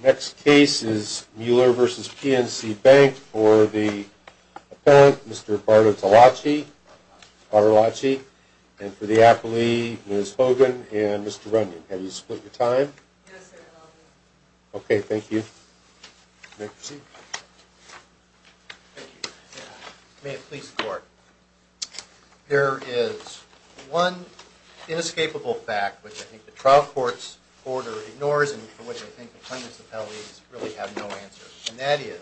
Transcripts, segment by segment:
The next case is Mueller v. PNC Bank for the appellant, Mr. Bartolacci, and for the appellee, Ms. Hogan and Mr. Runyon. Have you split your time? Yes, I have. Okay, thank you. You may proceed. Thank you. May it please the Court, there is one inescapable fact which I think the trial court's order ignores and for which I think the plaintiff's appellees really have no answer. And that is,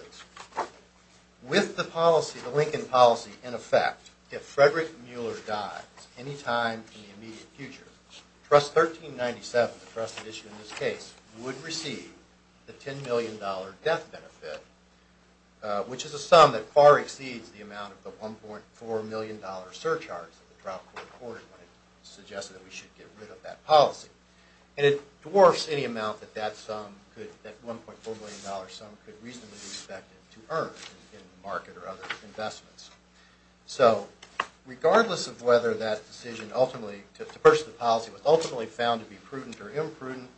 with the policy, the Lincoln policy in effect, if Frederick Mueller dies any time in the immediate future, Trust 1397, the trusted issue in this case, would receive the $10 million death benefit, which is a sum that far exceeds the amount of the $1.4 million surcharge that the trial court ordered when it suggested that we should get rid of that policy. And it dwarfs any amount that that sum could, that $1.4 million sum could reasonably be expected to earn in the market or other investments. So, regardless of whether that decision ultimately, to purchase the policy was ultimately found to be prudent or imprudent,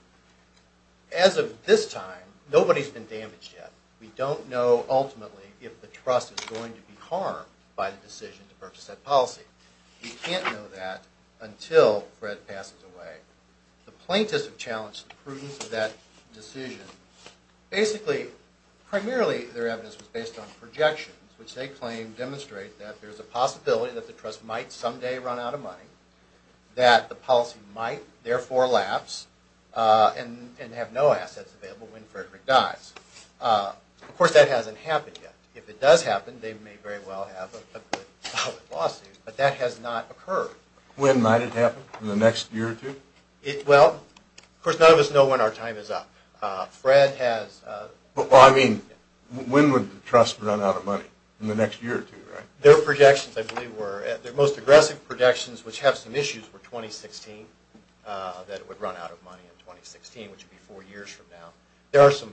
as of this time, nobody's been damaged yet. We don't know ultimately if the trust is going to be harmed by the decision to purchase that policy. We can't know that until Fred passes away. The plaintiffs have challenged the prudence of that decision. Basically, primarily their evidence was based on projections, which they claim demonstrate that there's a possibility that the trust might someday run out of money, that the policy might therefore lapse and have no assets available when Frederick dies. Of course, that hasn't happened yet. If it does happen, they may very well have a good, solid lawsuit, but that has not occurred. When might it happen? In the next year or two? Well, of course, none of us know when our time is up. Fred has... Well, I mean, when would the trust run out of money? In the next year or two, right? Their projections, I believe, were, their most aggressive projections, which have some issues, were 2016, that it would run out of money in 2016, which would be four years from now. There are some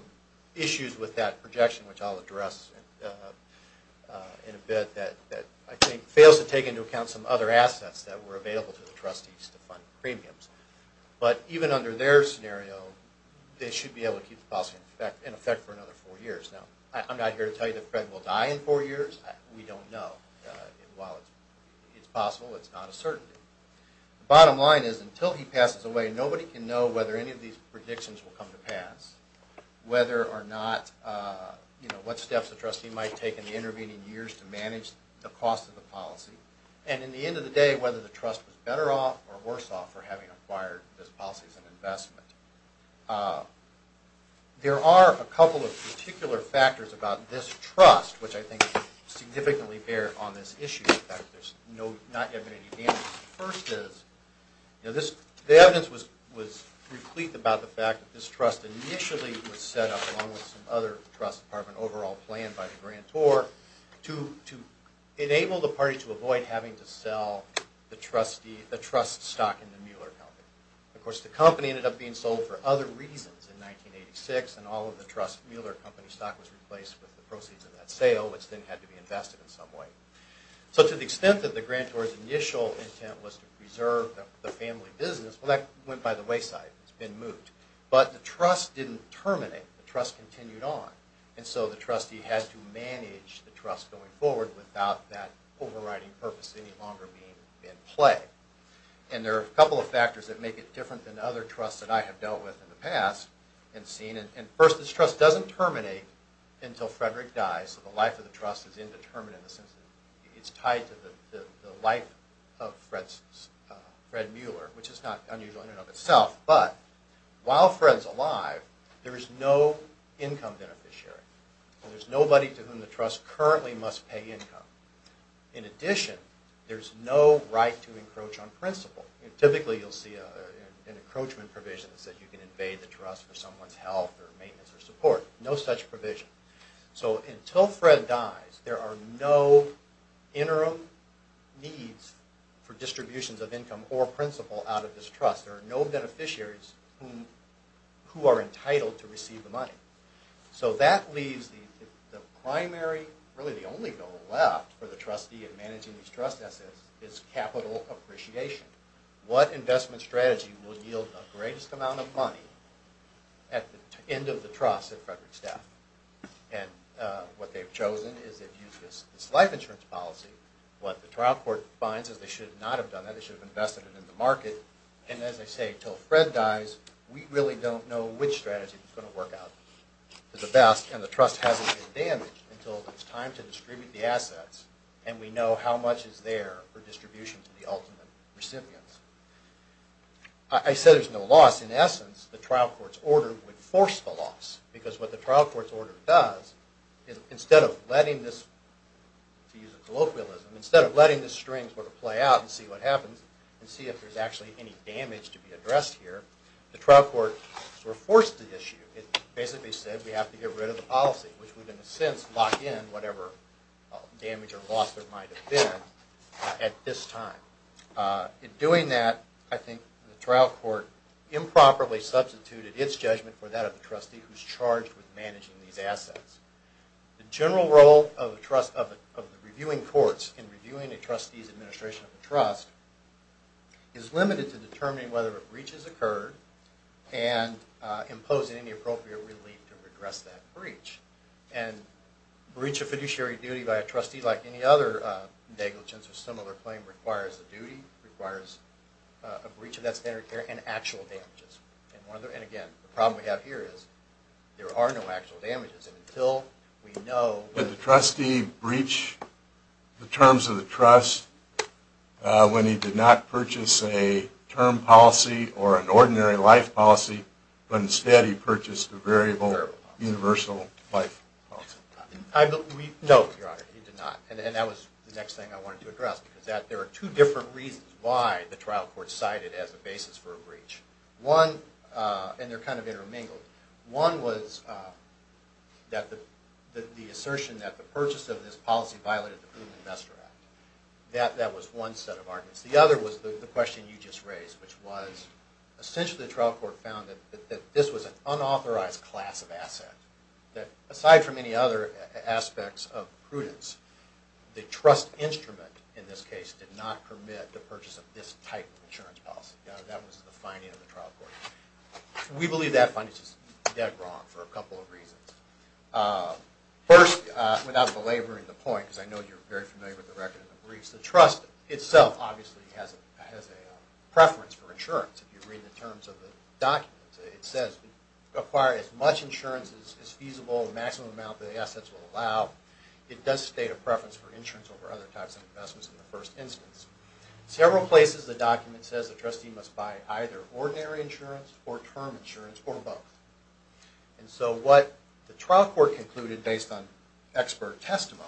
issues with that projection, which I'll address in a bit, that I think fails to take into account some other assets that were available to the trustees to fund premiums. But even under their scenario, they should be able to keep the policy in effect for another four years. Now, I'm not here to tell you that Fred will die in four years. We don't know. While it's possible, it's not a certainty. The bottom line is, until he passes away, nobody can know whether any of these predictions will come to pass, whether or not, you know, what steps the trustee might take in the intervening years to manage the cost of the policy, and in the end of the day, whether the trust was better off or worse off for having acquired this policy as an investment. There are a couple of particular factors about this trust, which I think significantly bear on this issue, the fact that there's not yet been any damage. The first is, you know, the evidence was replete about the fact that this trust initially was set up, along with some other trust department overall plan by the grantor, to enable the party to avoid having to sell the trust stock in the Mueller Company. Of course, the company ended up being sold for other reasons in 1986, and all of the trust Mueller Company stock was replaced with the proceeds of that sale, which then had to be invested in some way. So to the extent that the grantor's initial intent was to preserve the family business, well, that went by the wayside. It's been moved. But the trust didn't terminate. The trust continued on. And so the trustee had to manage the trust going forward without that overriding purpose any longer being in play. And there are a couple of factors that make it different than other trusts that I have dealt with in the past, and seen, and first, this trust doesn't terminate until Frederick dies, so the life of the trust is indeterminate in the sense that it's tied to the life of Fred Mueller, which is not unusual in and of itself. But while Fred's alive, there is no income beneficiary. There's nobody to whom the trust currently must pay income. In addition, there's no right to encroach on principal. Typically, you'll see an encroachment provision that says you can invade the trust for someone's health or maintenance or support. No such provision. So until Fred dies, there are no interim needs for distributions of income or principal out of this trust. There are no beneficiaries who are entitled to receive the money. So that leaves the primary, really the only goal left for the trustee in managing these trust assets is capital appreciation. What investment strategy will yield the greatest amount of money at the end of the trust at Frederick's death? And what they've chosen is they've used this life insurance policy. What the trial court finds is they should not have done that. They should have invested it in the market. And as I say, until Fred dies, we really don't know which strategy is going to work out to the best, and the trust hasn't been damaged until it's time to distribute the assets, and we know how much is there for distribution to the ultimate recipients. I said there's no loss. In essence, the trial court's order would force the loss, because what the trial court's order does is instead of letting this, to use a colloquialism, instead of letting the strings sort of play out and see what happens and see if there's actually any damage to be addressed here, the trial court sort of forced the issue. It basically said we have to get rid of the policy, which would in a sense lock in whatever damage or loss there might have been at this time. In doing that, I think the trial court improperly substituted its judgment for that of the trustee who's charged with managing these assets. The general role of the reviewing courts in reviewing a trustee's administration of the trust is limited to determining whether a breach has occurred and imposing any appropriate relief to regress that breach. A breach of fiduciary duty by a trustee, like any other negligence or similar claim, requires a duty, requires a breach of that standard of care, and actual damages. Again, the problem we have here is there are no actual damages. Did the trustee breach the terms of the trust when he did not purchase a term policy or an ordinary life policy, but instead he purchased a variable universal life policy? No, Your Honor, he did not. And that was the next thing I wanted to address, because there are two different reasons why the trial court cited it as a basis for a breach. One, and they're kind of intermingled, one was the assertion that the purchase of this policy violated the Prudent Investor Act. That was one set of arguments. The other was the question you just raised, which was essentially the trial court found that this was an unauthorized class of asset, that aside from any other aspects of prudence, the trust instrument in this case did not permit the purchase of this type of insurance policy. That was the finding of the trial court. We believe that finding is just dead wrong for a couple of reasons. First, without belaboring the point, because I know you're very familiar with the record of the breach, the trust itself obviously has a preference for insurance. If you read the terms of the documents, it says, acquire as much insurance as feasible, the maximum amount the assets will allow. It does state a preference for insurance over other types of investments in the first instance. Several places the document says the trustee must buy either ordinary insurance or term insurance or both. And so what the trial court concluded, based on expert testimony,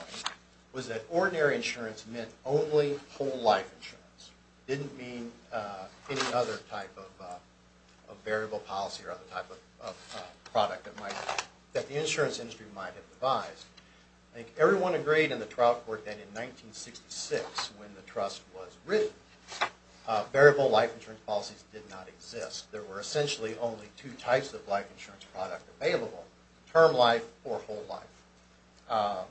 was that ordinary insurance meant only whole life insurance. It didn't mean any other type of variable policy or other type of product that the insurance industry might have devised. I think everyone agreed in the trial court that in 1966, when the trust was written, variable life insurance policies did not exist. There were essentially only two types of life insurance product available, term life or whole life.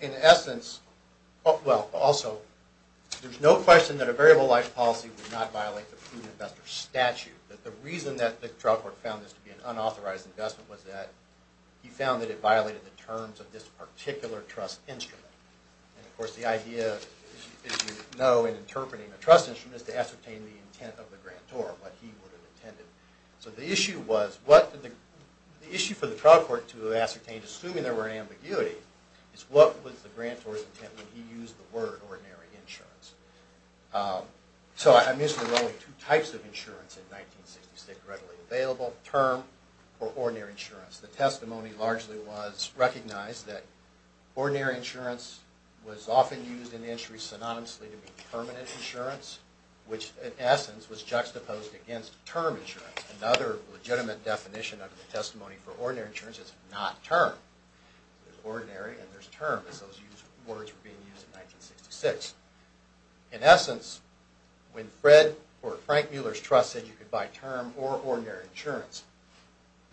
In essence, well, also, there's no question that a variable life policy would not violate the prudent investor statute. The reason that the trial court found this to be an unauthorized investment was that he found that it violated the terms of this particular trust instrument. And of course the idea, as you know in interpreting a trust instrument, is to ascertain the intent of the grantor, what he would have intended. So the issue for the trial court to ascertain, assuming there were an ambiguity, is what was the grantor's intent when he used the word ordinary insurance. So I mentioned there were only two types of insurance in 1966 readily available, term or ordinary insurance. The testimony largely was recognized that ordinary insurance was often used in the industry synonymously to mean permanent insurance, which in essence was juxtaposed against term insurance. Another legitimate definition of the testimony for ordinary insurance is not term. There's ordinary and there's term as those words were being used in 1966. In essence, when Frank Mueller's trust said you could buy term or ordinary insurance,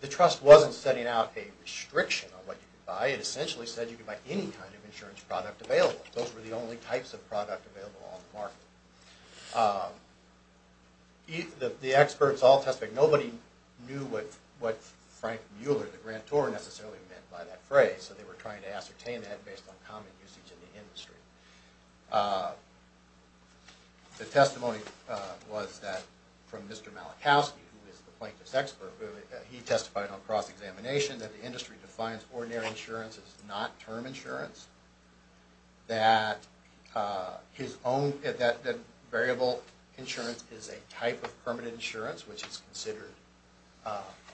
the trust wasn't setting out a restriction on what you could buy. It essentially said you could buy any kind of insurance product available. Those were the only types of product available on the market. The experts all testified that nobody knew what Frank Mueller, the grantor, necessarily meant by that phrase. So they were trying to ascertain that based on common usage in the industry. The testimony was that from Mr. Malachowski, who is the plaintiff's expert, he testified on cross-examination that the industry defines ordinary insurance as not term insurance, that variable insurance is a type of permanent insurance, which is considered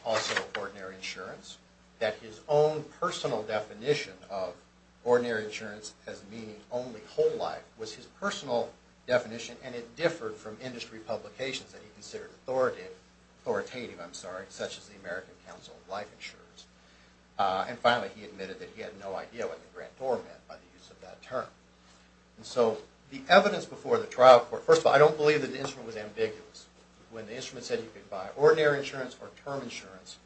also ordinary insurance, that his own personal definition of ordinary insurance as meaning only whole life was his personal definition and it differed from industry publications that he considered authoritative, such as the American Council of Life Insurance. And finally, he admitted that he had no idea what the grantor meant by the use of that term. So the evidence before the trial court, first of all, I don't believe that the instrument was ambiguous. When the instrument said you could buy ordinary insurance or term insurance,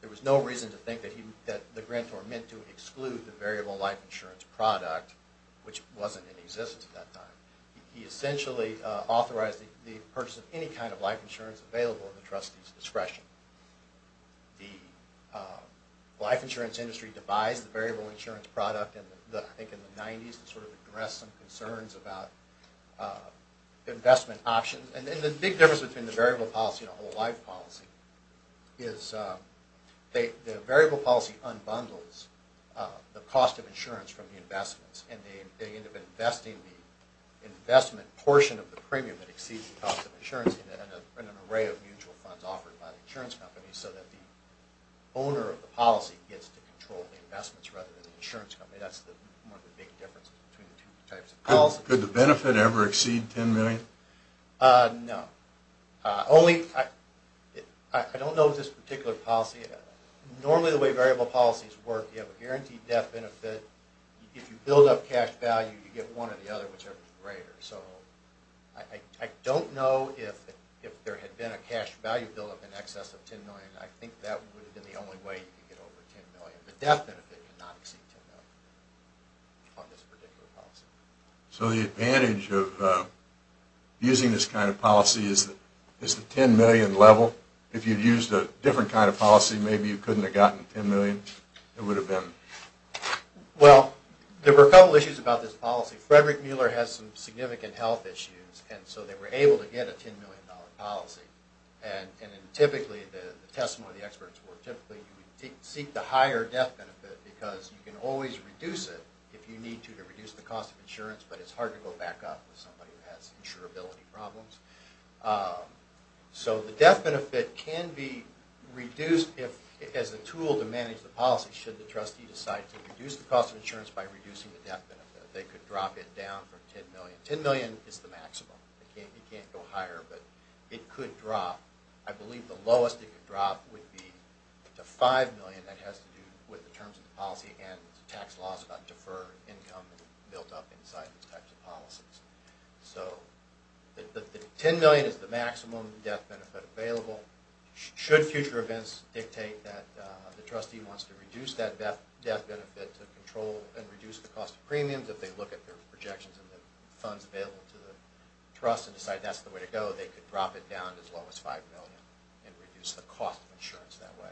there was no reason to think that the grantor meant to exclude the variable life insurance product, which wasn't in existence at that time. He essentially authorized the purchase of any kind of life insurance available at the trustee's discretion. The life insurance industry devised the variable insurance product, I think in the 90s, to sort of address some concerns about investment options. And the big difference between the variable policy and the whole life policy is the variable policy unbundles the cost of insurance from the investments, and they end up investing the investment portion of the premium that exceeds the cost of insurance in an array of mutual funds offered by the insurance company, so that the owner of the policy gets to control the investments rather than the insurance company. That's one of the big differences between the two types of policy. Could the benefit ever exceed $10 million? No. I don't know of this particular policy. Normally, the way variable policies work, you have a guaranteed death benefit. If you build up cash value, you get one or the other, whichever is greater. So I don't know if there had been a cash value buildup in excess of $10 million. I think that would have been the only way you could get over $10 million. The death benefit would not exceed $10 million on this particular policy. So the advantage of using this kind of policy is the $10 million level? If you'd used a different kind of policy, maybe you couldn't have gotten $10 million. It would have been... Well, there were a couple issues about this policy. Frederick Mueller has some significant health issues, and so they were able to get a $10 million policy. Typically, the testimony of the experts were, you would seek the higher death benefit because you can always reduce it if you need to to reduce the cost of insurance, but it's hard to go back up with somebody who has insurability problems. So the death benefit can be reduced as a tool to manage the policy should the trustee decide to reduce the cost of insurance by reducing the death benefit. They could drop it down from $10 million. $10 million is the maximum. It can't go higher, but it could drop. I believe the lowest it could drop would be to $5 million. That has to do with the terms of the policy and the tax laws about deferred income that are built up inside these types of policies. So $10 million is the maximum death benefit available. Should future events dictate that the trustee wants to reduce that death benefit to control and reduce the cost of premiums, should they look at their projections and the funds available to the trust and decide that's the way to go, they could drop it down to as low as $5 million and reduce the cost of insurance that way.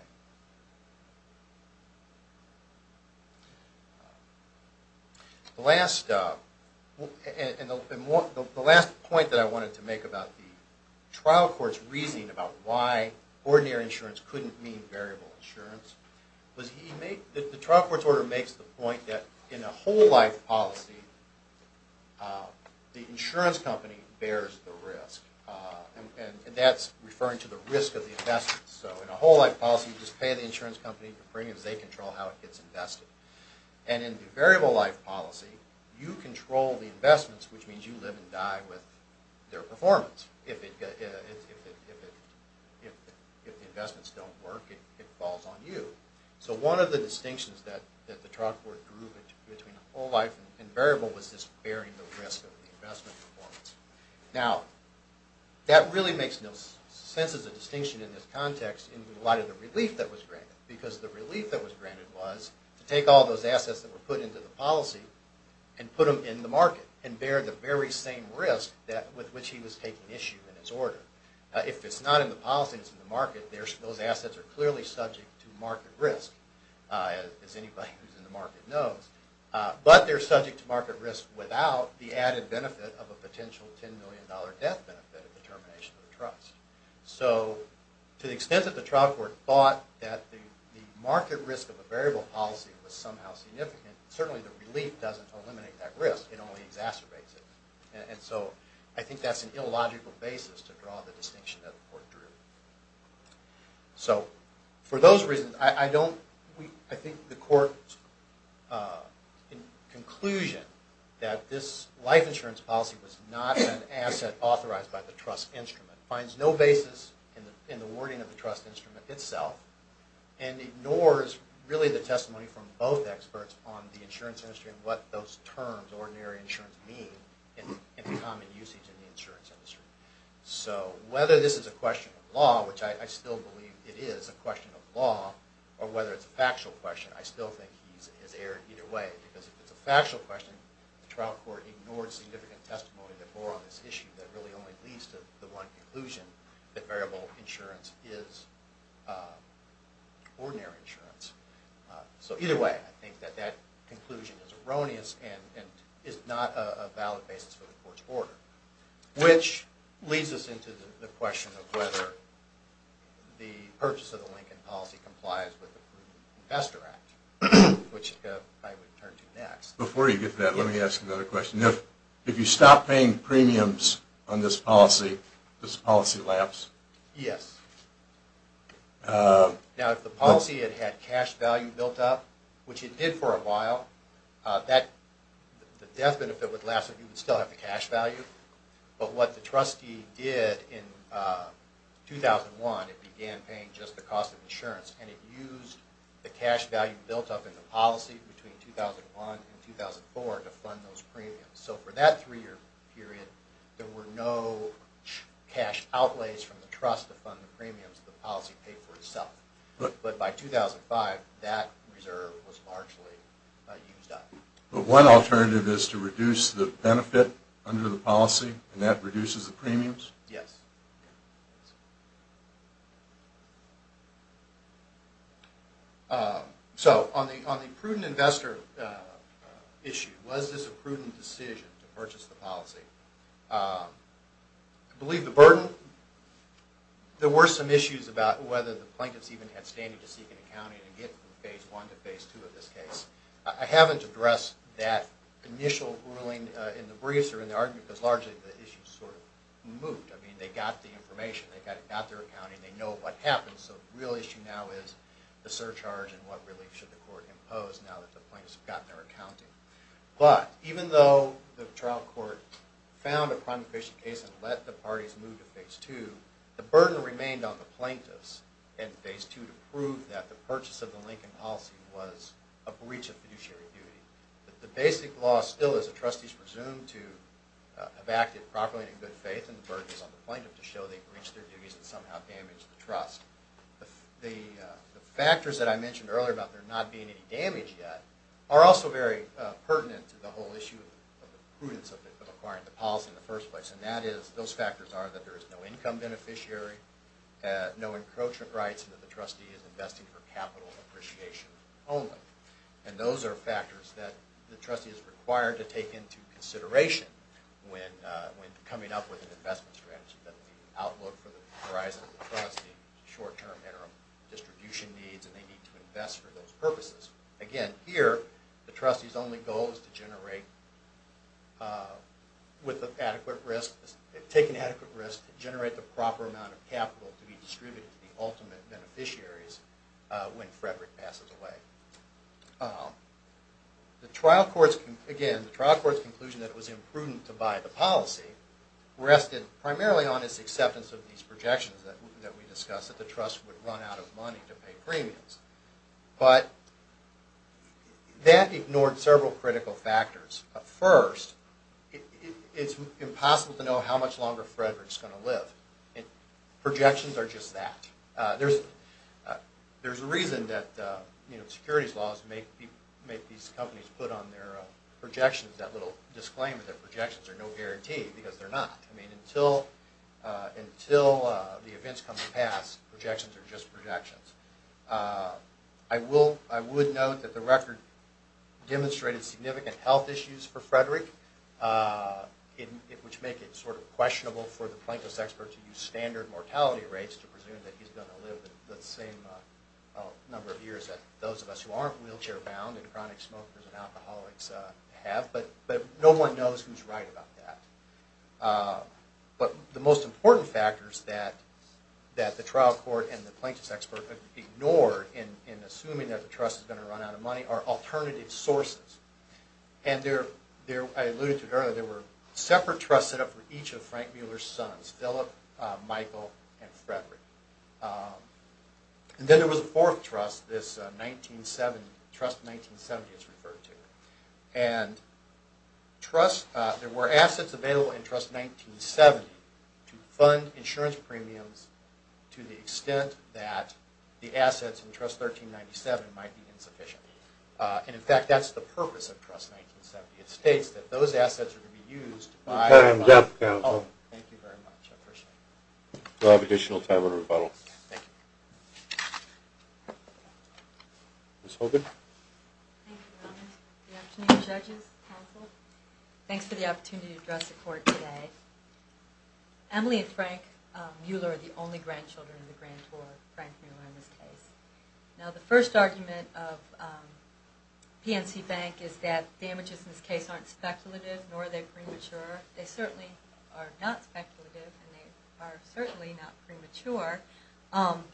The last point that I wanted to make about the trial court's reasoning about why ordinary insurance couldn't mean variable insurance was that the trial court's order makes the point that in a whole life policy, the insurance company bears the risk. And that's referring to the risk of the investments. So in a whole life policy, you just pay the insurance company the premiums they control how it gets invested. And in the variable life policy, you control the investments, which means you live and die with their performance. If the investments don't work, it falls on you. So one of the distinctions that the trial court drew between a whole life and variable was this bearing the risk of the investment performance. Now, that really makes no sense as a distinction in this context in light of the relief that was granted. Because the relief that was granted was to take all those assets that were put into the policy and put them in the market and bear the very same risk with which he was taking issue in his order. If it's not in the policy and it's in the market, those assets are clearly subject to market risk, as anybody who's in the market knows. But they're subject to market risk without the added benefit of a potential $10 million death benefit of the termination of the trust. So to the extent that the trial court thought that the market risk of a variable policy was somehow significant, certainly the relief doesn't eliminate that risk. It only exacerbates it. And so I think that's an illogical basis to draw the distinction that the court drew. So for those reasons, I think the court's conclusion that this life insurance policy was not an asset authorized by the trust instrument finds no basis in the wording of the trust instrument itself and ignores really the testimony from both experts on the insurance industry and what those terms, ordinary insurance, mean and the common usage in the insurance industry. So whether this is a question of law, which I still believe it is a question of law, or whether it's a factual question, I still think he's erred either way. Because if it's a factual question, the trial court ignored significant testimony that bore on this issue that really only leads to the one conclusion that variable insurance is ordinary insurance. So either way, I think that that conclusion is erroneous and is not a valid basis for the court's order, which leads us into the question of whether the purchase of the Lincoln policy complies with the Proven Investor Act, which I would turn to next. Before you get to that, let me ask another question. If you stop paying premiums on this policy, does the policy lapse? Yes. Now if the policy had had cash value built up, which it did for a while, the death benefit would last, but you would still have the cash value. But what the trustee did in 2001, it began paying just the cost of insurance and it used the cash value built up in the policy between 2001 and 2004 to fund those premiums. So for that three-year period, there were no cash outlays from the trust to fund the premiums. The policy paid for itself. But by 2005, that reserve was largely used up. But one alternative is to reduce the benefit under the policy and that reduces the premiums? Yes. So on the prudent investor issue, was this a prudent decision to purchase the policy? I believe the burden. There were some issues about whether the plaintiffs even had standing to seek an accounting and get from Phase I to Phase II in this case. I haven't addressed that initial ruling in the briefs or in the argument because largely the issue sort of moved. I mean, they got the information. They got their accounting. They know what happened. So the real issue now is the surcharge and what relief should the court impose now that the plaintiffs have gotten their accounting. But even though the trial court found a crime-efficient case and let the parties move to Phase II, the burden remained on the plaintiffs in Phase II to prove that the purchase of the Lincoln policy was a breach of fiduciary duty. The basic law still is a trustee is presumed to have acted properly and in good faith, and the burden is on the plaintiff to show they breached their duties and somehow damaged the trust. The factors that I mentioned earlier about there not being any damage yet are also very pertinent to the whole issue of the prudence of acquiring the policy in the first place, and those factors are that there is no income beneficiary, no encroachment rights, and that the trustee is investing for capital appreciation only. And those are factors that the trustee is required to take into consideration when coming up with an investment strategy, that the outlook for the horizon of the trustee, short-term, interim distribution needs, and they need to invest for those purposes. Again, here, the trustee's only goal is to take an adequate risk to generate the proper amount of capital to be distributed to the ultimate beneficiaries when Frederick passes away. The trial court's conclusion that it was imprudent to buy the policy rested primarily on its acceptance of these projections that we discussed, that the trust would run out of money to pay premiums. But that ignored several critical factors. First, it's impossible to know how much longer Frederick's going to live. Projections are just that. There's a reason that securities laws make these companies put on their projections that little disclaimer that projections are no guarantee, because they're not. Until the events come to pass, projections are just projections. I would note that the record demonstrated significant health issues for Frederick, which make it sort of questionable for the plaintiff's expert to use standard mortality rates to presume that he's going to live the same number of years that those of us who aren't wheelchair-bound and chronic smokers and alcoholics have. But no one knows who's right about that. But the most important factors that the trial court and the plaintiff's expert ignored in assuming that the trust is going to run out of money are alternative sources. And I alluded to it earlier, there were separate trusts set up for each of Frank Mueller's sons, Philip, Michael, and Frederick. And then there was a fourth trust, this Trust 1970, as referred to. And there were assets available in Trust 1970 to fund insurance premiums to the extent that the assets in Trust 1397 might be insufficient. And, in fact, that's the purpose of Trust 1970. It states that those assets are to be used by- Time's up, counsel. Thank you very much, I appreciate it. We'll have additional time for rebuttal. Thank you. Ms. Hogan? Thank you, Your Honor. Good afternoon, judges, counsel. Thanks for the opportunity to address the court today. Emily and Frank Mueller are the only grandchildren of the grantor, Frank Mueller, in this case. Now, the first argument of PNC Bank is that damages in this case aren't speculative, nor are they premature. They certainly are not speculative, and they are certainly not premature.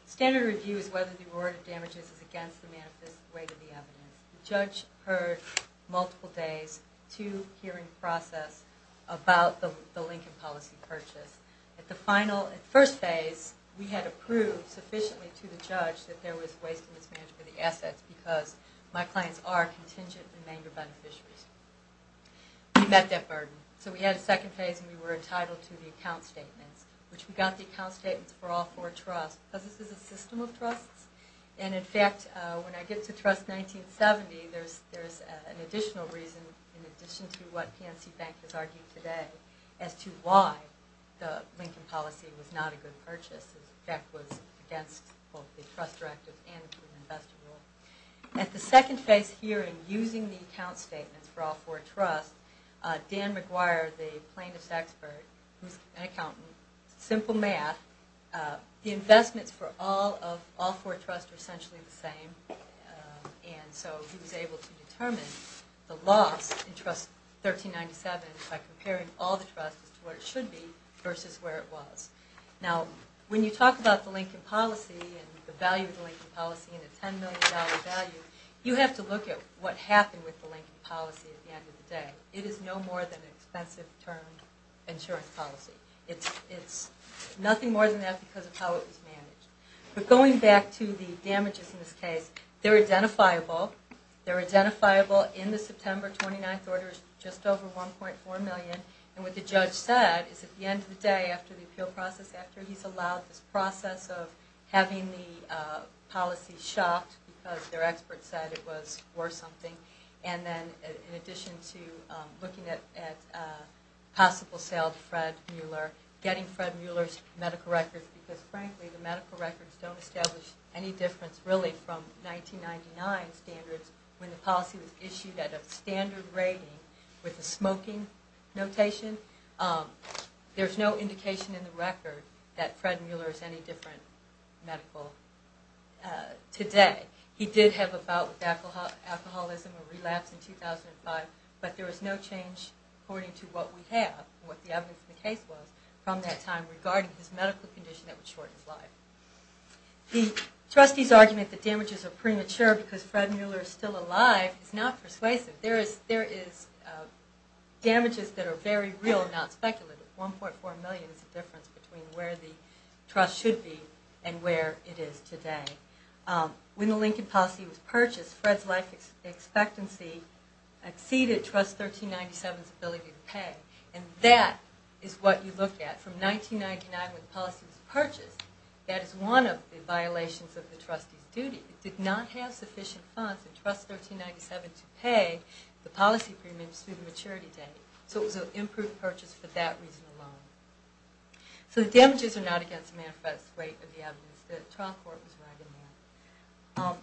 Standard review is whether the reward of damages is against the manifest weight of the evidence. The judge heard multiple days to hearing process about the Lincoln policy purchase. At the first phase, we had approved sufficiently to the judge that there was waste and mismanagement of the assets because my clients are contingent remainder beneficiaries. We met that burden. So we had a second phase, and we were entitled to the account statements, which we got the account statements for all four trusts because this is a system of trusts. And, in fact, when I get to Trust 1970, there's an additional reason, in addition to what PNC Bank has argued today as to why the Lincoln policy was not a good purchase. In fact, it was against both the trust directive and the investor rule. At the second phase hearing, using the account statements for all four trusts, Dan McGuire, the plaintiff's expert, who's an accountant, simple math, the investments for all four trusts were essentially the same. And so he was able to determine the loss in Trust 1397 by comparing all the trusts to where it should be versus where it was. Now, when you talk about the Lincoln policy and the value of the Lincoln policy and the $10 million value, you have to look at what happened with the Lincoln policy at the end of the day. It is no more than an expensive term insurance policy. It's nothing more than that because of how it was managed. But going back to the damages in this case, they're identifiable. They're identifiable in the September 29th orders, just over $1.4 million. And what the judge said is at the end of the day, after the appeal process, after he's allowed this process of having the policy shot because their expert said it was worth something, and then in addition to looking at possible sale to Fred Mueller, getting Fred Mueller's medical records because, frankly, the medical records don't establish any difference really from 1999 standards when the policy was issued at a standard rating with a smoking notation. There's no indication in the record that Fred Mueller is any different medical today. He did have a bout with alcoholism, a relapse in 2005, but there was no change according to what we have, what the evidence in the case was from that time regarding his medical condition that would shorten his life. The trustee's argument that damages are premature because Fred Mueller is still alive is not persuasive. There is damages that are very real, not speculative. $1.4 million is the difference between where the trust should be and where it is today. When the Lincoln policy was purchased, Fred's life expectancy exceeded Trust 1397's ability to pay, and that is what you look at from 1999 when the policy was purchased. That is one of the violations of the trustee's duty. It did not have sufficient funds for Trust 1397 to pay the policy premiums through the maturity date, so it was an improved purchase for that reason alone. So the damages are not against the manifest weight of the evidence. The trial court was right in there.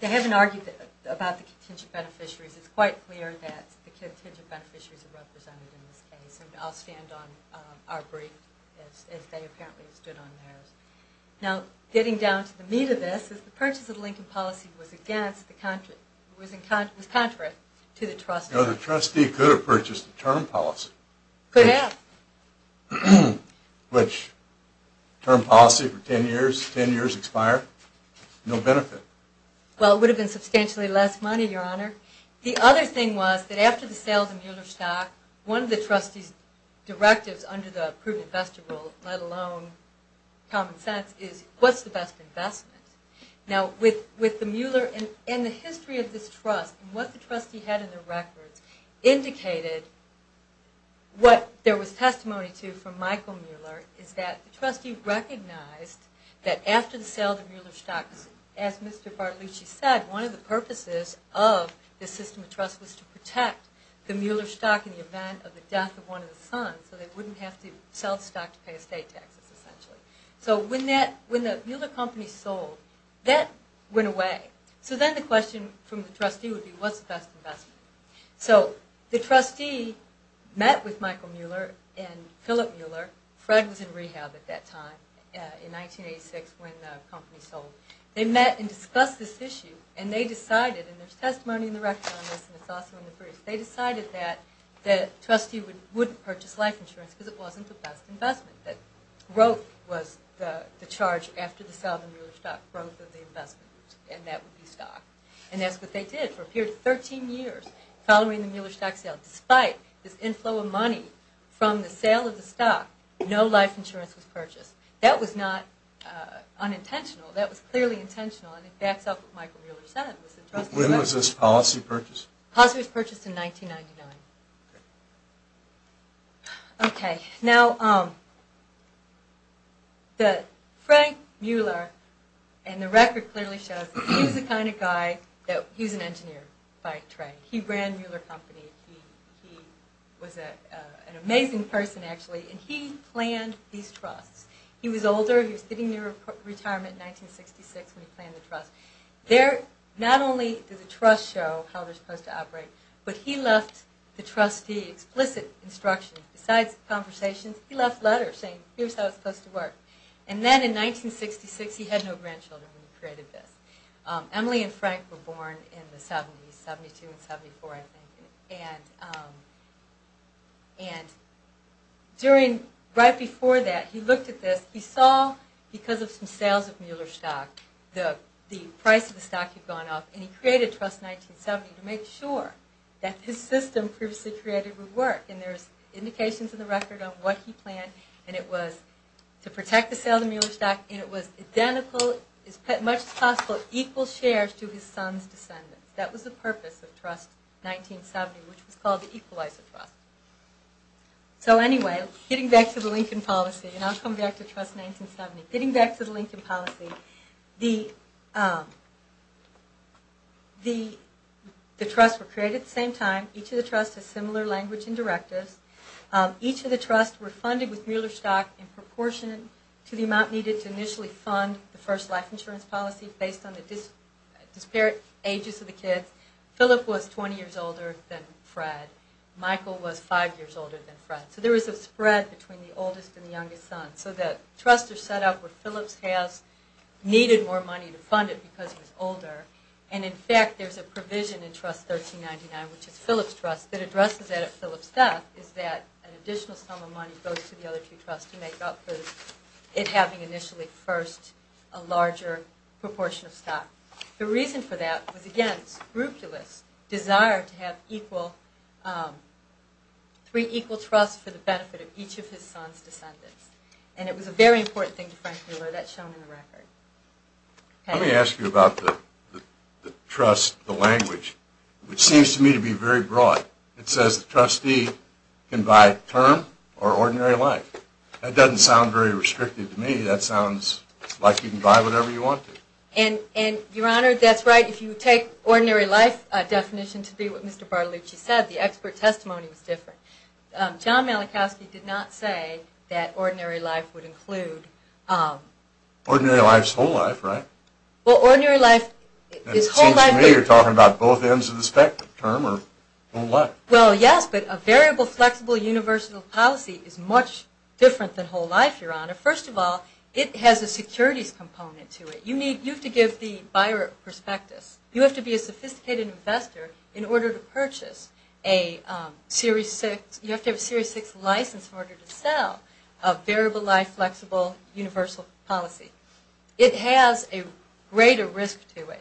They haven't argued about the contingent beneficiaries. It's quite clear that the contingent beneficiaries are represented in this case, and I'll stand on our brief as they apparently stood on theirs. Now, getting down to the meat of this is the purchase of the Lincoln policy was contrary to the trustee. No, the trustee could have purchased the term policy. Could have. Which term policy for 10 years, 10 years expired, no benefit. Well, it would have been substantially less money, Your Honor. The other thing was that after the sale of the Mueller stock, one of the trustee's directives under the Approved Investor Rule, let alone common sense, is what's the best investment. Now, with the Mueller and the history of this trust, and what the trustee had in the records indicated what there was testimony to from Michael Mueller is that the trustee recognized that after the sale of the Mueller stock, as Mr. Bartolucci said, one of the purposes of the system of trust was to protect the Mueller stock in the event of the death of one of the sons, so they wouldn't have to sell the stock to pay estate taxes, essentially. So when the Mueller company sold, that went away. So then the question from the trustee would be what's the best investment. So the trustee met with Michael Mueller and Philip Mueller. Fred was in rehab at that time in 1986 when the company sold. They met and discussed this issue, and they decided, and there's testimony in the records on this, and it's also in the briefs, they decided that the trustee wouldn't purchase life insurance because it wasn't the best investment, that growth was the charge after the sale of the Mueller stock, growth of the investment, and that would be stock. And that's what they did for a period of 13 years following the Mueller stock sale. Despite this inflow of money from the sale of the stock, no life insurance was purchased. That was not unintentional. That was clearly intentional, and it backs up what Michael Mueller said. When was this policy purchased? Policy was purchased in 1999. Okay. Now, Frank Mueller, and the record clearly shows he was the kind of guy that, he was an engineer by trade. He ran Mueller Company. He was an amazing person, actually, and he planned these trusts. He was older. He was getting near retirement in 1966 when he planned the trust. Not only did the trust show how they're supposed to operate, but he left the trustee explicit instructions. Besides conversations, he left letters saying, here's how it's supposed to work. And then in 1966, he had no grandchildren when he created this. Emily and Frank were born in the 70s, 72 and 74, I think. Right before that, he looked at this. He saw, because of some sales of Mueller stock, the price of the stock had gone up, and he created Trust 1970 to make sure that his system previously created would work. And there's indications in the record of what he planned, and it was to protect the sale of the Mueller stock, and it was identical, as much as possible, equal shares to his son's descendants. That was the purpose of Trust 1970, which was called the Equalizer Trust. So anyway, getting back to the Lincoln Policy, and I'll come back to Trust 1970. Getting back to the Lincoln Policy, the trusts were created at the same time. Each of the trusts has similar language and directives. Each of the trusts were funded with Mueller stock in proportion to the amount needed to initially fund the first life insurance policy based on the disparate ages of the kids. Philip was 20 years older than Fred. Michael was five years older than Fred. So there was a spread between the oldest and the youngest son. So the trusts are set up where Philip's house needed more money to fund it because he was older. And in fact, there's a provision in Trust 1399, which is Philip's trust, that addresses that at Philip's death, is that an additional sum of money goes to the other two trusts to make up for it having initially, first, a larger proportion of stock. The reason for that was, again, scrupulous desire to have three equal trusts for the benefit of each of his son's descendants. And it was a very important thing to Frank Mueller. That's shown in the record. Let me ask you about the trust, the language, which seems to me to be very broad. It says the trustee can buy term or ordinary life. That doesn't sound very restrictive to me. That sounds like you can buy whatever you want to. And, Your Honor, that's right. If you take ordinary life definition to be what Mr. Bartolucci said, the expert testimony was different. John Malachowski did not say that ordinary life would include. Ordinary life is whole life, right? Well, ordinary life is whole life. It seems to me you're talking about both ends of the spectrum or whole life. Well, yes, but a variable, flexible, universal policy is much different than whole life, Your Honor. First of all, it has a securities component to it. You have to give the buyer a prospectus. You have to be a sophisticated investor in order to purchase a Series 6. You have to have a Series 6 license in order to sell a variable life, flexible, universal policy. It has a greater risk to it.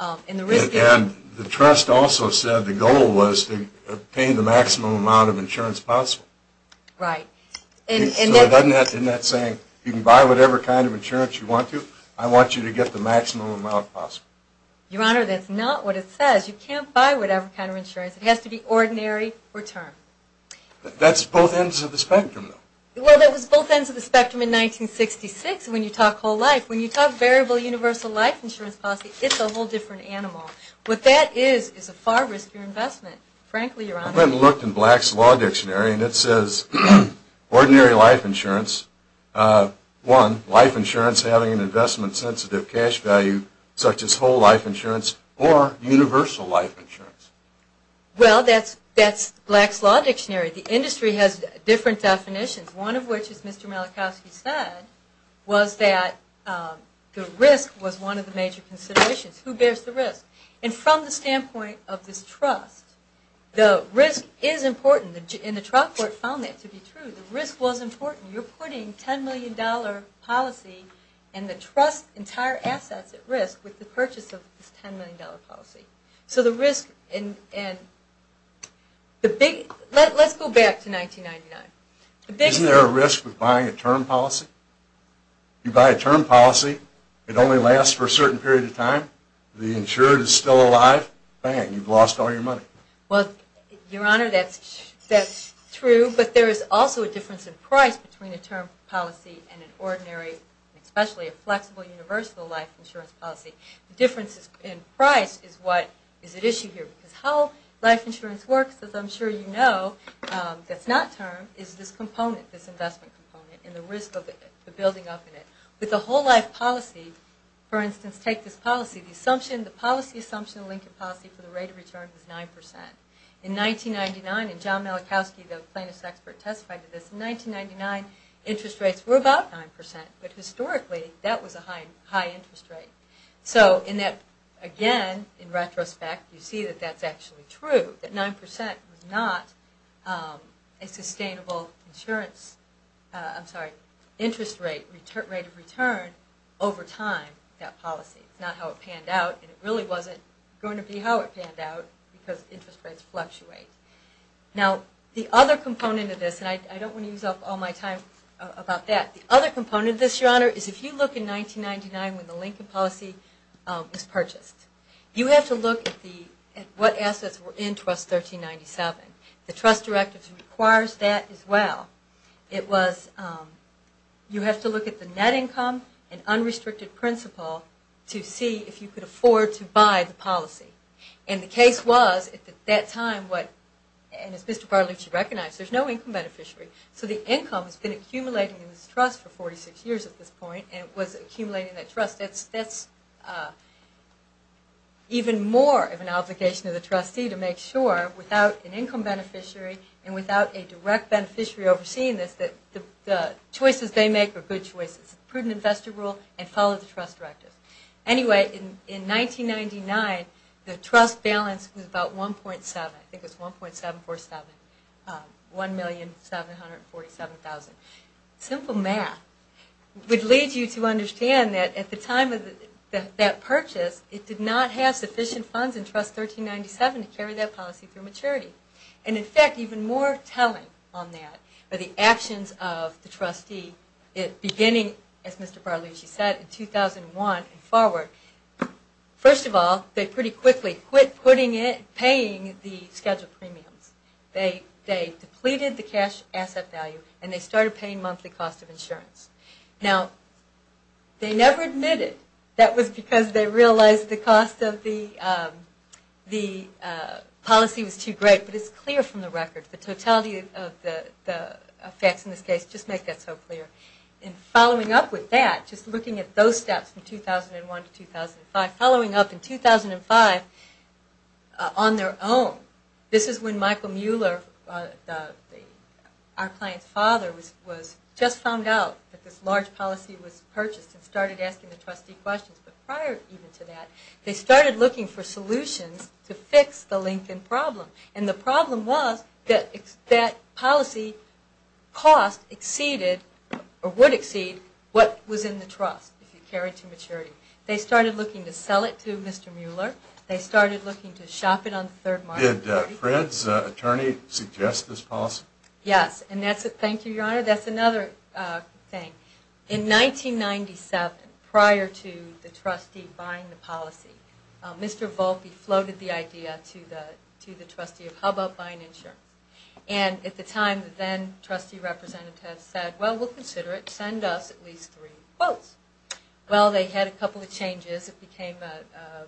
And the trust also said the goal was to obtain the maximum amount of insurance possible. Right. Isn't that saying you can buy whatever kind of insurance you want to, I want you to get the maximum amount possible? Your Honor, that's not what it says. You can't buy whatever kind of insurance. It has to be ordinary return. That's both ends of the spectrum, though. Well, that was both ends of the spectrum in 1966 when you talk whole life. When you talk variable universal life insurance policy, it's a whole different animal. What that is is a far riskier investment, frankly, Your Honor. I went and looked in Black's Law Dictionary, and it says ordinary life insurance, one, life insurance having an investment-sensitive cash value such as whole life insurance or universal life insurance. Well, that's Black's Law Dictionary. The industry has different definitions, one of which, as Mr. Malachowski said, was that the risk was one of the major considerations. Who bears the risk? And from the standpoint of this trust, the risk is important, and the trial court found that to be true. The risk was important. You're putting $10 million policy and the trust's entire assets at risk with the purchase of this $10 million policy. So the risk and the big – let's go back to 1999. Isn't there a risk with buying a term policy? You buy a term policy, it only lasts for a certain period of time. The insurer is still alive. Bang, you've lost all your money. Well, Your Honor, that's true, but there is also a difference in price between a term policy and an ordinary, especially a flexible, universal life insurance policy. The difference in price is what is at issue here. Because how life insurance works, as I'm sure you know, that's not term, is this component, this investment component, and the risk of the building up in it. With a whole life policy, for instance, take this policy. The assumption, the policy assumption, the Lincoln policy for the rate of return was 9%. In 1999, and John Malachowski, the plaintiff's expert, testified to this, in 1999, interest rates were about 9%, but historically, that was a high interest rate. So in that, again, in retrospect, you see that that's actually true, that 9% was not a sustainable insurance, I'm sorry, interest rate, rate of return over time, that policy. It's not how it panned out, and it really wasn't going to be how it panned out, because interest rates fluctuate. Now, the other component of this, and I don't want to use up all my time about that. The other component of this, Your Honor, is if you look in 1999 when the Lincoln policy was purchased, you have to look at what assets were in Trust 1397. The trust directive requires that as well. It was, you have to look at the net income and unrestricted principal to see if you could afford to buy the policy. And the case was, at that time, and as Mr. Bartolucci recognized, there's no income beneficiary, so the income has been accumulating in this trust for 46 years at this point, and it was accumulating that trust. That's even more of an obligation of the trustee to make sure, without an income beneficiary and without a direct beneficiary overseeing this, that the choices they make are good choices. It's a prudent investor rule, and follow the trust directive. Anyway, in 1999, the trust balance was about 1.7, I think it was 1.747, 1,747,000. Simple math would lead you to understand that at the time of that purchase, it did not have sufficient funds in Trust 1397 to carry that policy through maturity. And in fact, even more telling on that are the actions of the trustee beginning, as Mr. Bartolucci said, in 2001 and forward. First of all, they pretty quickly quit paying the scheduled premiums. They depleted the cash asset value, and they started paying monthly cost of insurance. Now, they never admitted that was because they realized the policy was too great, but it's clear from the record, the totality of the facts in this case just make that so clear. And following up with that, just looking at those steps from 2001 to 2005, following up in 2005 on their own. This is when Michael Mueller, our client's father, just found out that this large policy was purchased and started asking the trustee questions. But prior even to that, they started looking for solutions to fix the Lincoln problem. And the problem was that policy cost exceeded or would exceed what was in the trust, if you carry it to maturity. They started looking to sell it to Mr. Mueller. They started looking to shop it on the third market. Did Fred's attorney suggest this policy? Yes, and that's another thing. In 1997, prior to the trustee buying the policy, Mr. Volpe floated the idea to the trustee of how about buying insurance. And at the time, the then trustee representative said, well, we'll consider it. Send us at least three quotes. Well, they had a couple of changes. It became the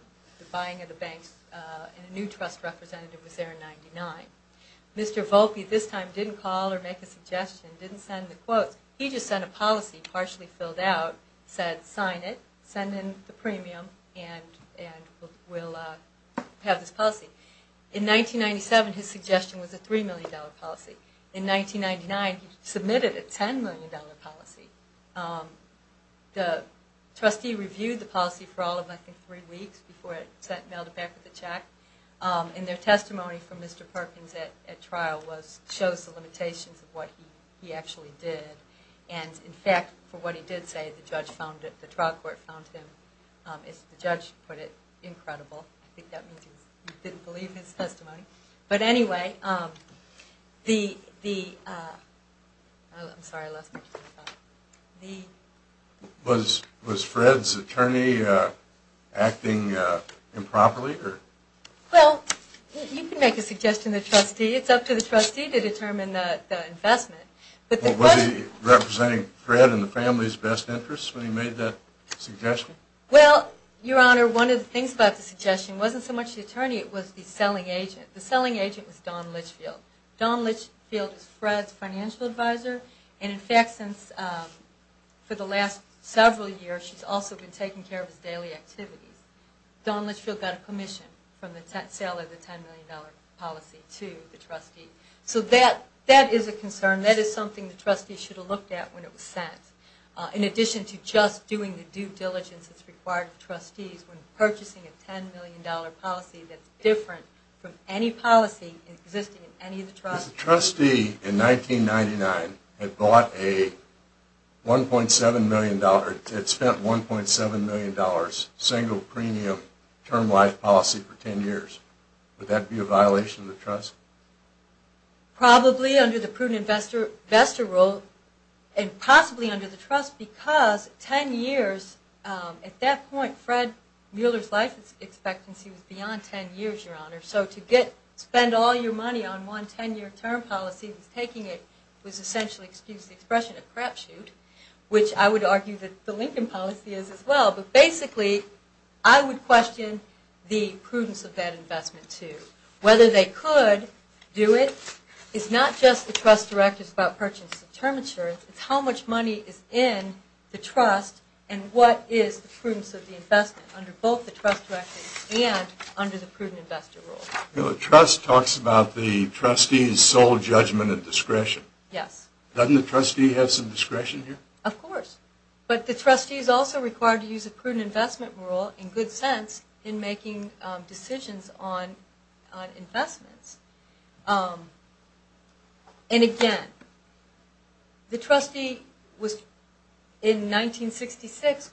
buying of the banks, and a new trust representative was there in 1999. Mr. Volpe this time didn't call or make a suggestion, didn't send the quotes. He just sent a policy partially filled out, said sign it, send in the premium, and we'll have this policy. In 1997, his suggestion was a $3 million policy. In 1999, he submitted a $10 million policy. The trustee reviewed the policy for all of, I think, three weeks before it was mailed back with a check. And their testimony from Mr. Perkins at trial shows the limitations of what he actually did. And, in fact, for what he did say, the trial court found him, as the judge put it, incredible. I think that means he didn't believe his testimony. But anyway, the, I'm sorry, I lost my train of thought. Was Fred's attorney acting improperly? Well, you can make a suggestion to the trustee. It's up to the trustee to determine the investment. Was he representing Fred and the family's best interests when he made that suggestion? Well, Your Honor, one of the things about the suggestion wasn't so much the attorney. It was the selling agent. The selling agent was Dawn Litchfield. Dawn Litchfield is Fred's financial advisor. And, in fact, since, for the last several years, she's also been taking care of his daily activities. Dawn Litchfield got a commission from the seller of the $10 million policy to the trustee. So that is a concern. That is something the trustee should have looked at when it was sent. In addition to just doing the due diligence that's required of the trustees when purchasing a $10 million policy that's different from any policy existing in any of the trustees. If the trustee in 1999 had bought a $1.7 million, had spent $1.7 million single premium term life policy for 10 years, would that be a violation of the trust? Probably under the prudent investor rule. And possibly under the trust because 10 years, at that point, Fred Mueller's life expectancy was beyond 10 years, Your Honor. So to spend all your money on one 10-year term policy that's taking it was essentially, excuse the expression, a crapshoot. Which I would argue that the Lincoln policy is as well. But basically, I would question the prudence of that investment too. Whether they could do it is not just the trust directives about purchase of term insurance. It's how much money is in the trust and what is the prudence of the investment under both the trust directives and under the prudent investor rule. The trust talks about the trustee's sole judgment and discretion. Yes. Doesn't the trustee have some discretion here? Of course. But the trustee is also required to use a prudent investment rule, in good sense, in making decisions on investments. And again, the trustee in 1966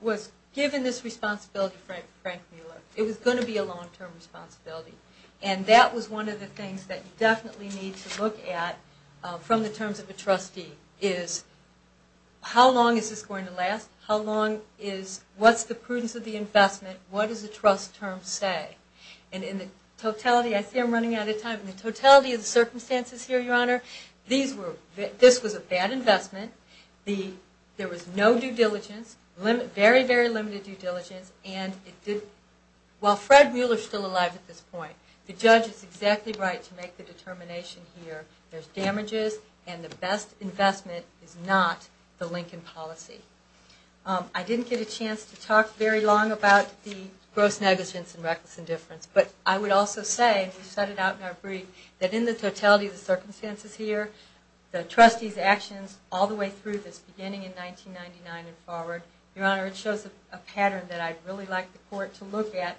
was given this responsibility by Frank Mueller. It was going to be a long-term responsibility. And that was one of the things that you definitely need to look at from the terms of a trustee is how long is this going to last? How long is, what's the prudence of the investment? What does the trust term say? And in the totality, I see I'm running out of time. In the totality of the circumstances here, Your Honor, this was a bad investment. There was no due diligence. Very, very limited due diligence. While Fred Mueller is still alive at this point, the judge is exactly right to make the determination here. There's damages, and the best investment is not the Lincoln policy. I didn't get a chance to talk very long about the gross negligence and reckless indifference. But I would also say, we set it out in our brief, that in the totality of the circumstances here, the trustee's actions all the way through this beginning in 1999 and forward, Your Honor, it shows a pattern that I'd really like the court to look at.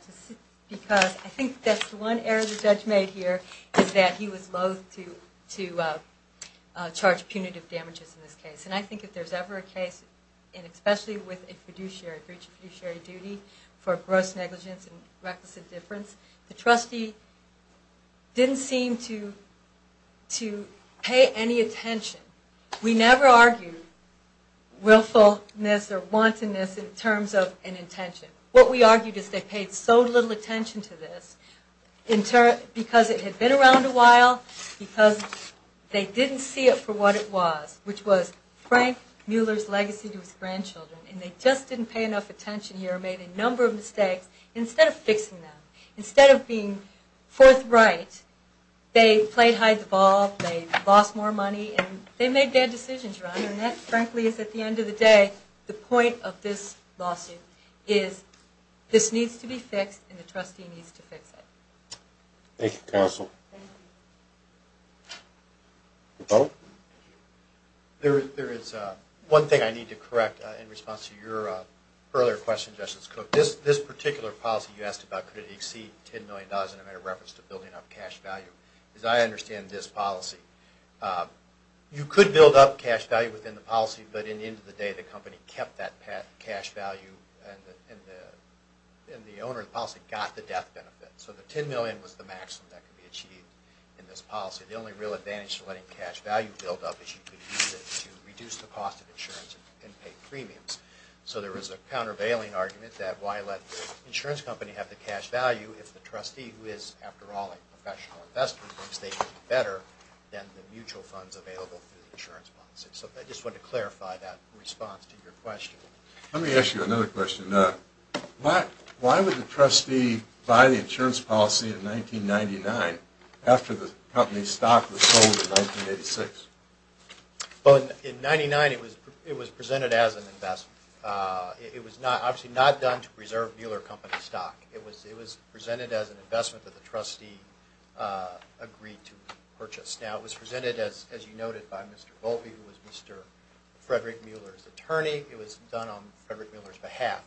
Because I think that's one error the judge made here, is that he was loathe to charge punitive damages in this case. And I think if there's ever a case, and especially with a fiduciary, breach of fiduciary duty, for gross negligence and reckless indifference, the trustee didn't seem to pay any attention. We never argued willfulness or wantonness in terms of an intention. What we argued is they paid so little attention to this, because it had been around a while, because they didn't see it for what it was, which was Frank Mueller's legacy to his grandchildren. And they just didn't pay enough attention here, made a number of mistakes. Instead of fixing them, instead of being forthright, they played hide the ball, they lost more money, and they made bad decisions, Your Honor. And that, frankly, is, at the end of the day, the point of this lawsuit, is this needs to be fixed and the trustee needs to fix it. Thank you, counsel. There is one thing I need to correct in response to your earlier question, Justice Cook. This particular policy you asked about, could it exceed $10 million in a matter of reference to building up cash value, because I understand this policy. You could build up cash value within the policy, but at the end of the day, the company kept that cash value and the owner of the policy got the death benefit. So the $10 million was the maximum that could be achieved in this policy. The only real advantage to letting cash value build up is you could use it to reduce the cost of insurance and pay premiums. So there is a countervailing argument that why let the insurance company have the cash value if the trustee, who is, after all, a professional investor, thinks they should be better than the mutual funds available through the insurance policy. So I just wanted to clarify that response to your question. Let me ask you another question. Why would the trustee buy the insurance policy in 1999 after the company's stock was sold in 1986? Well, in 1999, it was presented as an investment. It was obviously not done to preserve Mueller Company stock. It was presented as an investment that the trustee agreed to purchase. Now, it was presented, as you noted, by Mr. Volpe, who was Mr. Frederick Mueller's attorney. It was done on Frederick Mueller's behalf.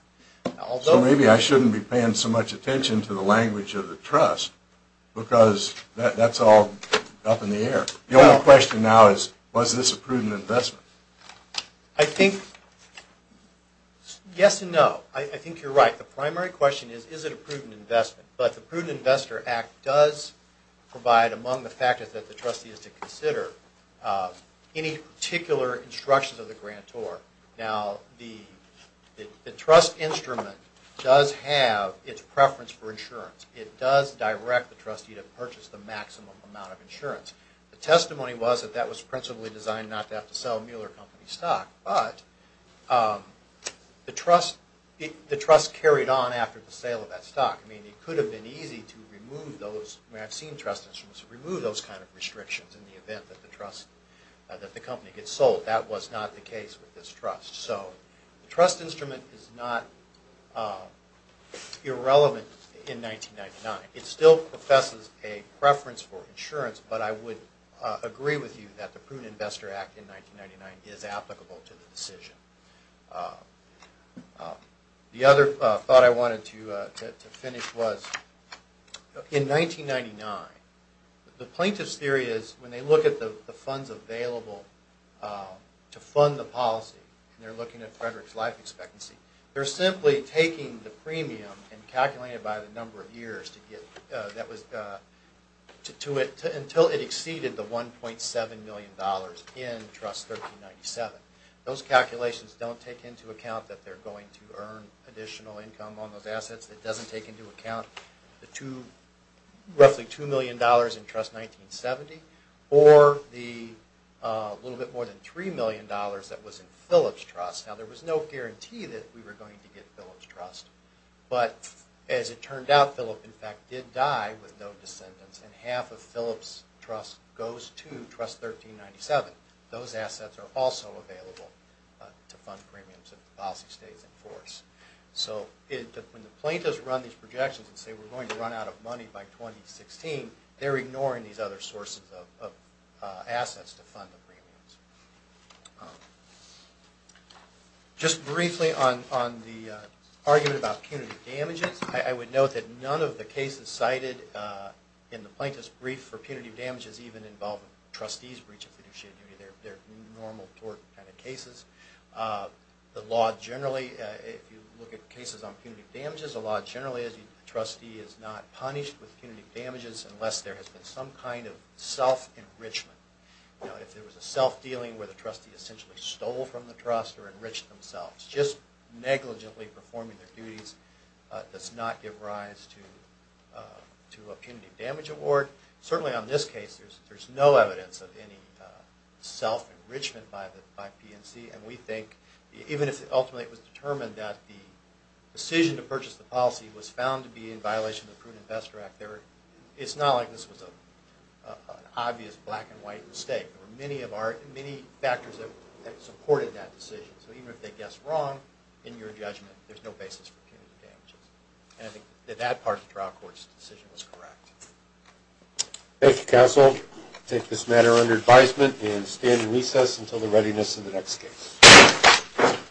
So maybe I shouldn't be paying so much attention to the language of the trust, because that's all up in the air. The only question now is, was this a prudent investment? I think yes and no. I think you're right. The primary question is, is it a prudent investment? But the Prudent Investor Act does provide, among the factors that the trustee has to consider, any particular instructions of the grantor. Now, the trust instrument does have its preference for insurance. It does direct the trustee to purchase the maximum amount of insurance. The testimony was that that was principally designed not to have to sell Mueller Company stock. But the trust carried on after the sale of that stock. I mean, it could have been easy to remove those. I mean, I've seen trust instruments remove those kind of restrictions in the event that the company gets sold. That was not the case with this trust. So the trust instrument is not irrelevant in 1999. It still professes a preference for insurance, but I would agree with you that the Prudent Investor Act in 1999 is applicable to the decision. The other thought I wanted to finish was, in 1999, the plaintiff's theory is, when they look at the funds available to fund the policy, and they're looking at Frederick's life expectancy, they're simply taking the premium and calculating it by the number of years until it exceeded the $1.7 million in Trust 1397. Those calculations don't take into account that they're going to earn additional income on those assets. It doesn't take into account the roughly $2 million in Trust 1970, or the little bit more than $3 million that was in Phillips Trust. Now, there was no guarantee that we were going to get Phillips Trust, but as it turned out, Phillips, in fact, did die with no descendants, and half of Phillips Trust goes to Trust 1397. Those assets are also available to fund premiums if the policy stays in force. So when the plaintiffs run these projections and say, we're going to run out of money by 2016, they're ignoring these other sources of assets to fund the premiums. Just briefly on the argument about punitive damages, I would note that none of the cases cited in the plaintiff's brief for punitive damages even involve a trustee's breach of fiduciary duty. They're normal tort kind of cases. The law generally, if you look at cases on punitive damages, the law generally is the trustee is not punished with punitive damages unless there has been some kind of self-enrichment. If there was a self-dealing where the trustee essentially stole from the trust or enriched themselves, just negligently performing their duties does not give rise to a punitive damage award. Certainly on this case, there's no evidence of any self-enrichment by PNC, and we think even if ultimately it was determined that the decision to purchase the policy was found to be in violation of the Prudent Investor Act, it's not like this was an obvious black and white mistake. There were many factors that supported that decision. So even if they guessed wrong in your judgment, there's no basis for punitive damages. And I think that that part of the trial court's decision was correct. Thank you, counsel. I take this matter under advisement and stand in recess until the readiness of the next case.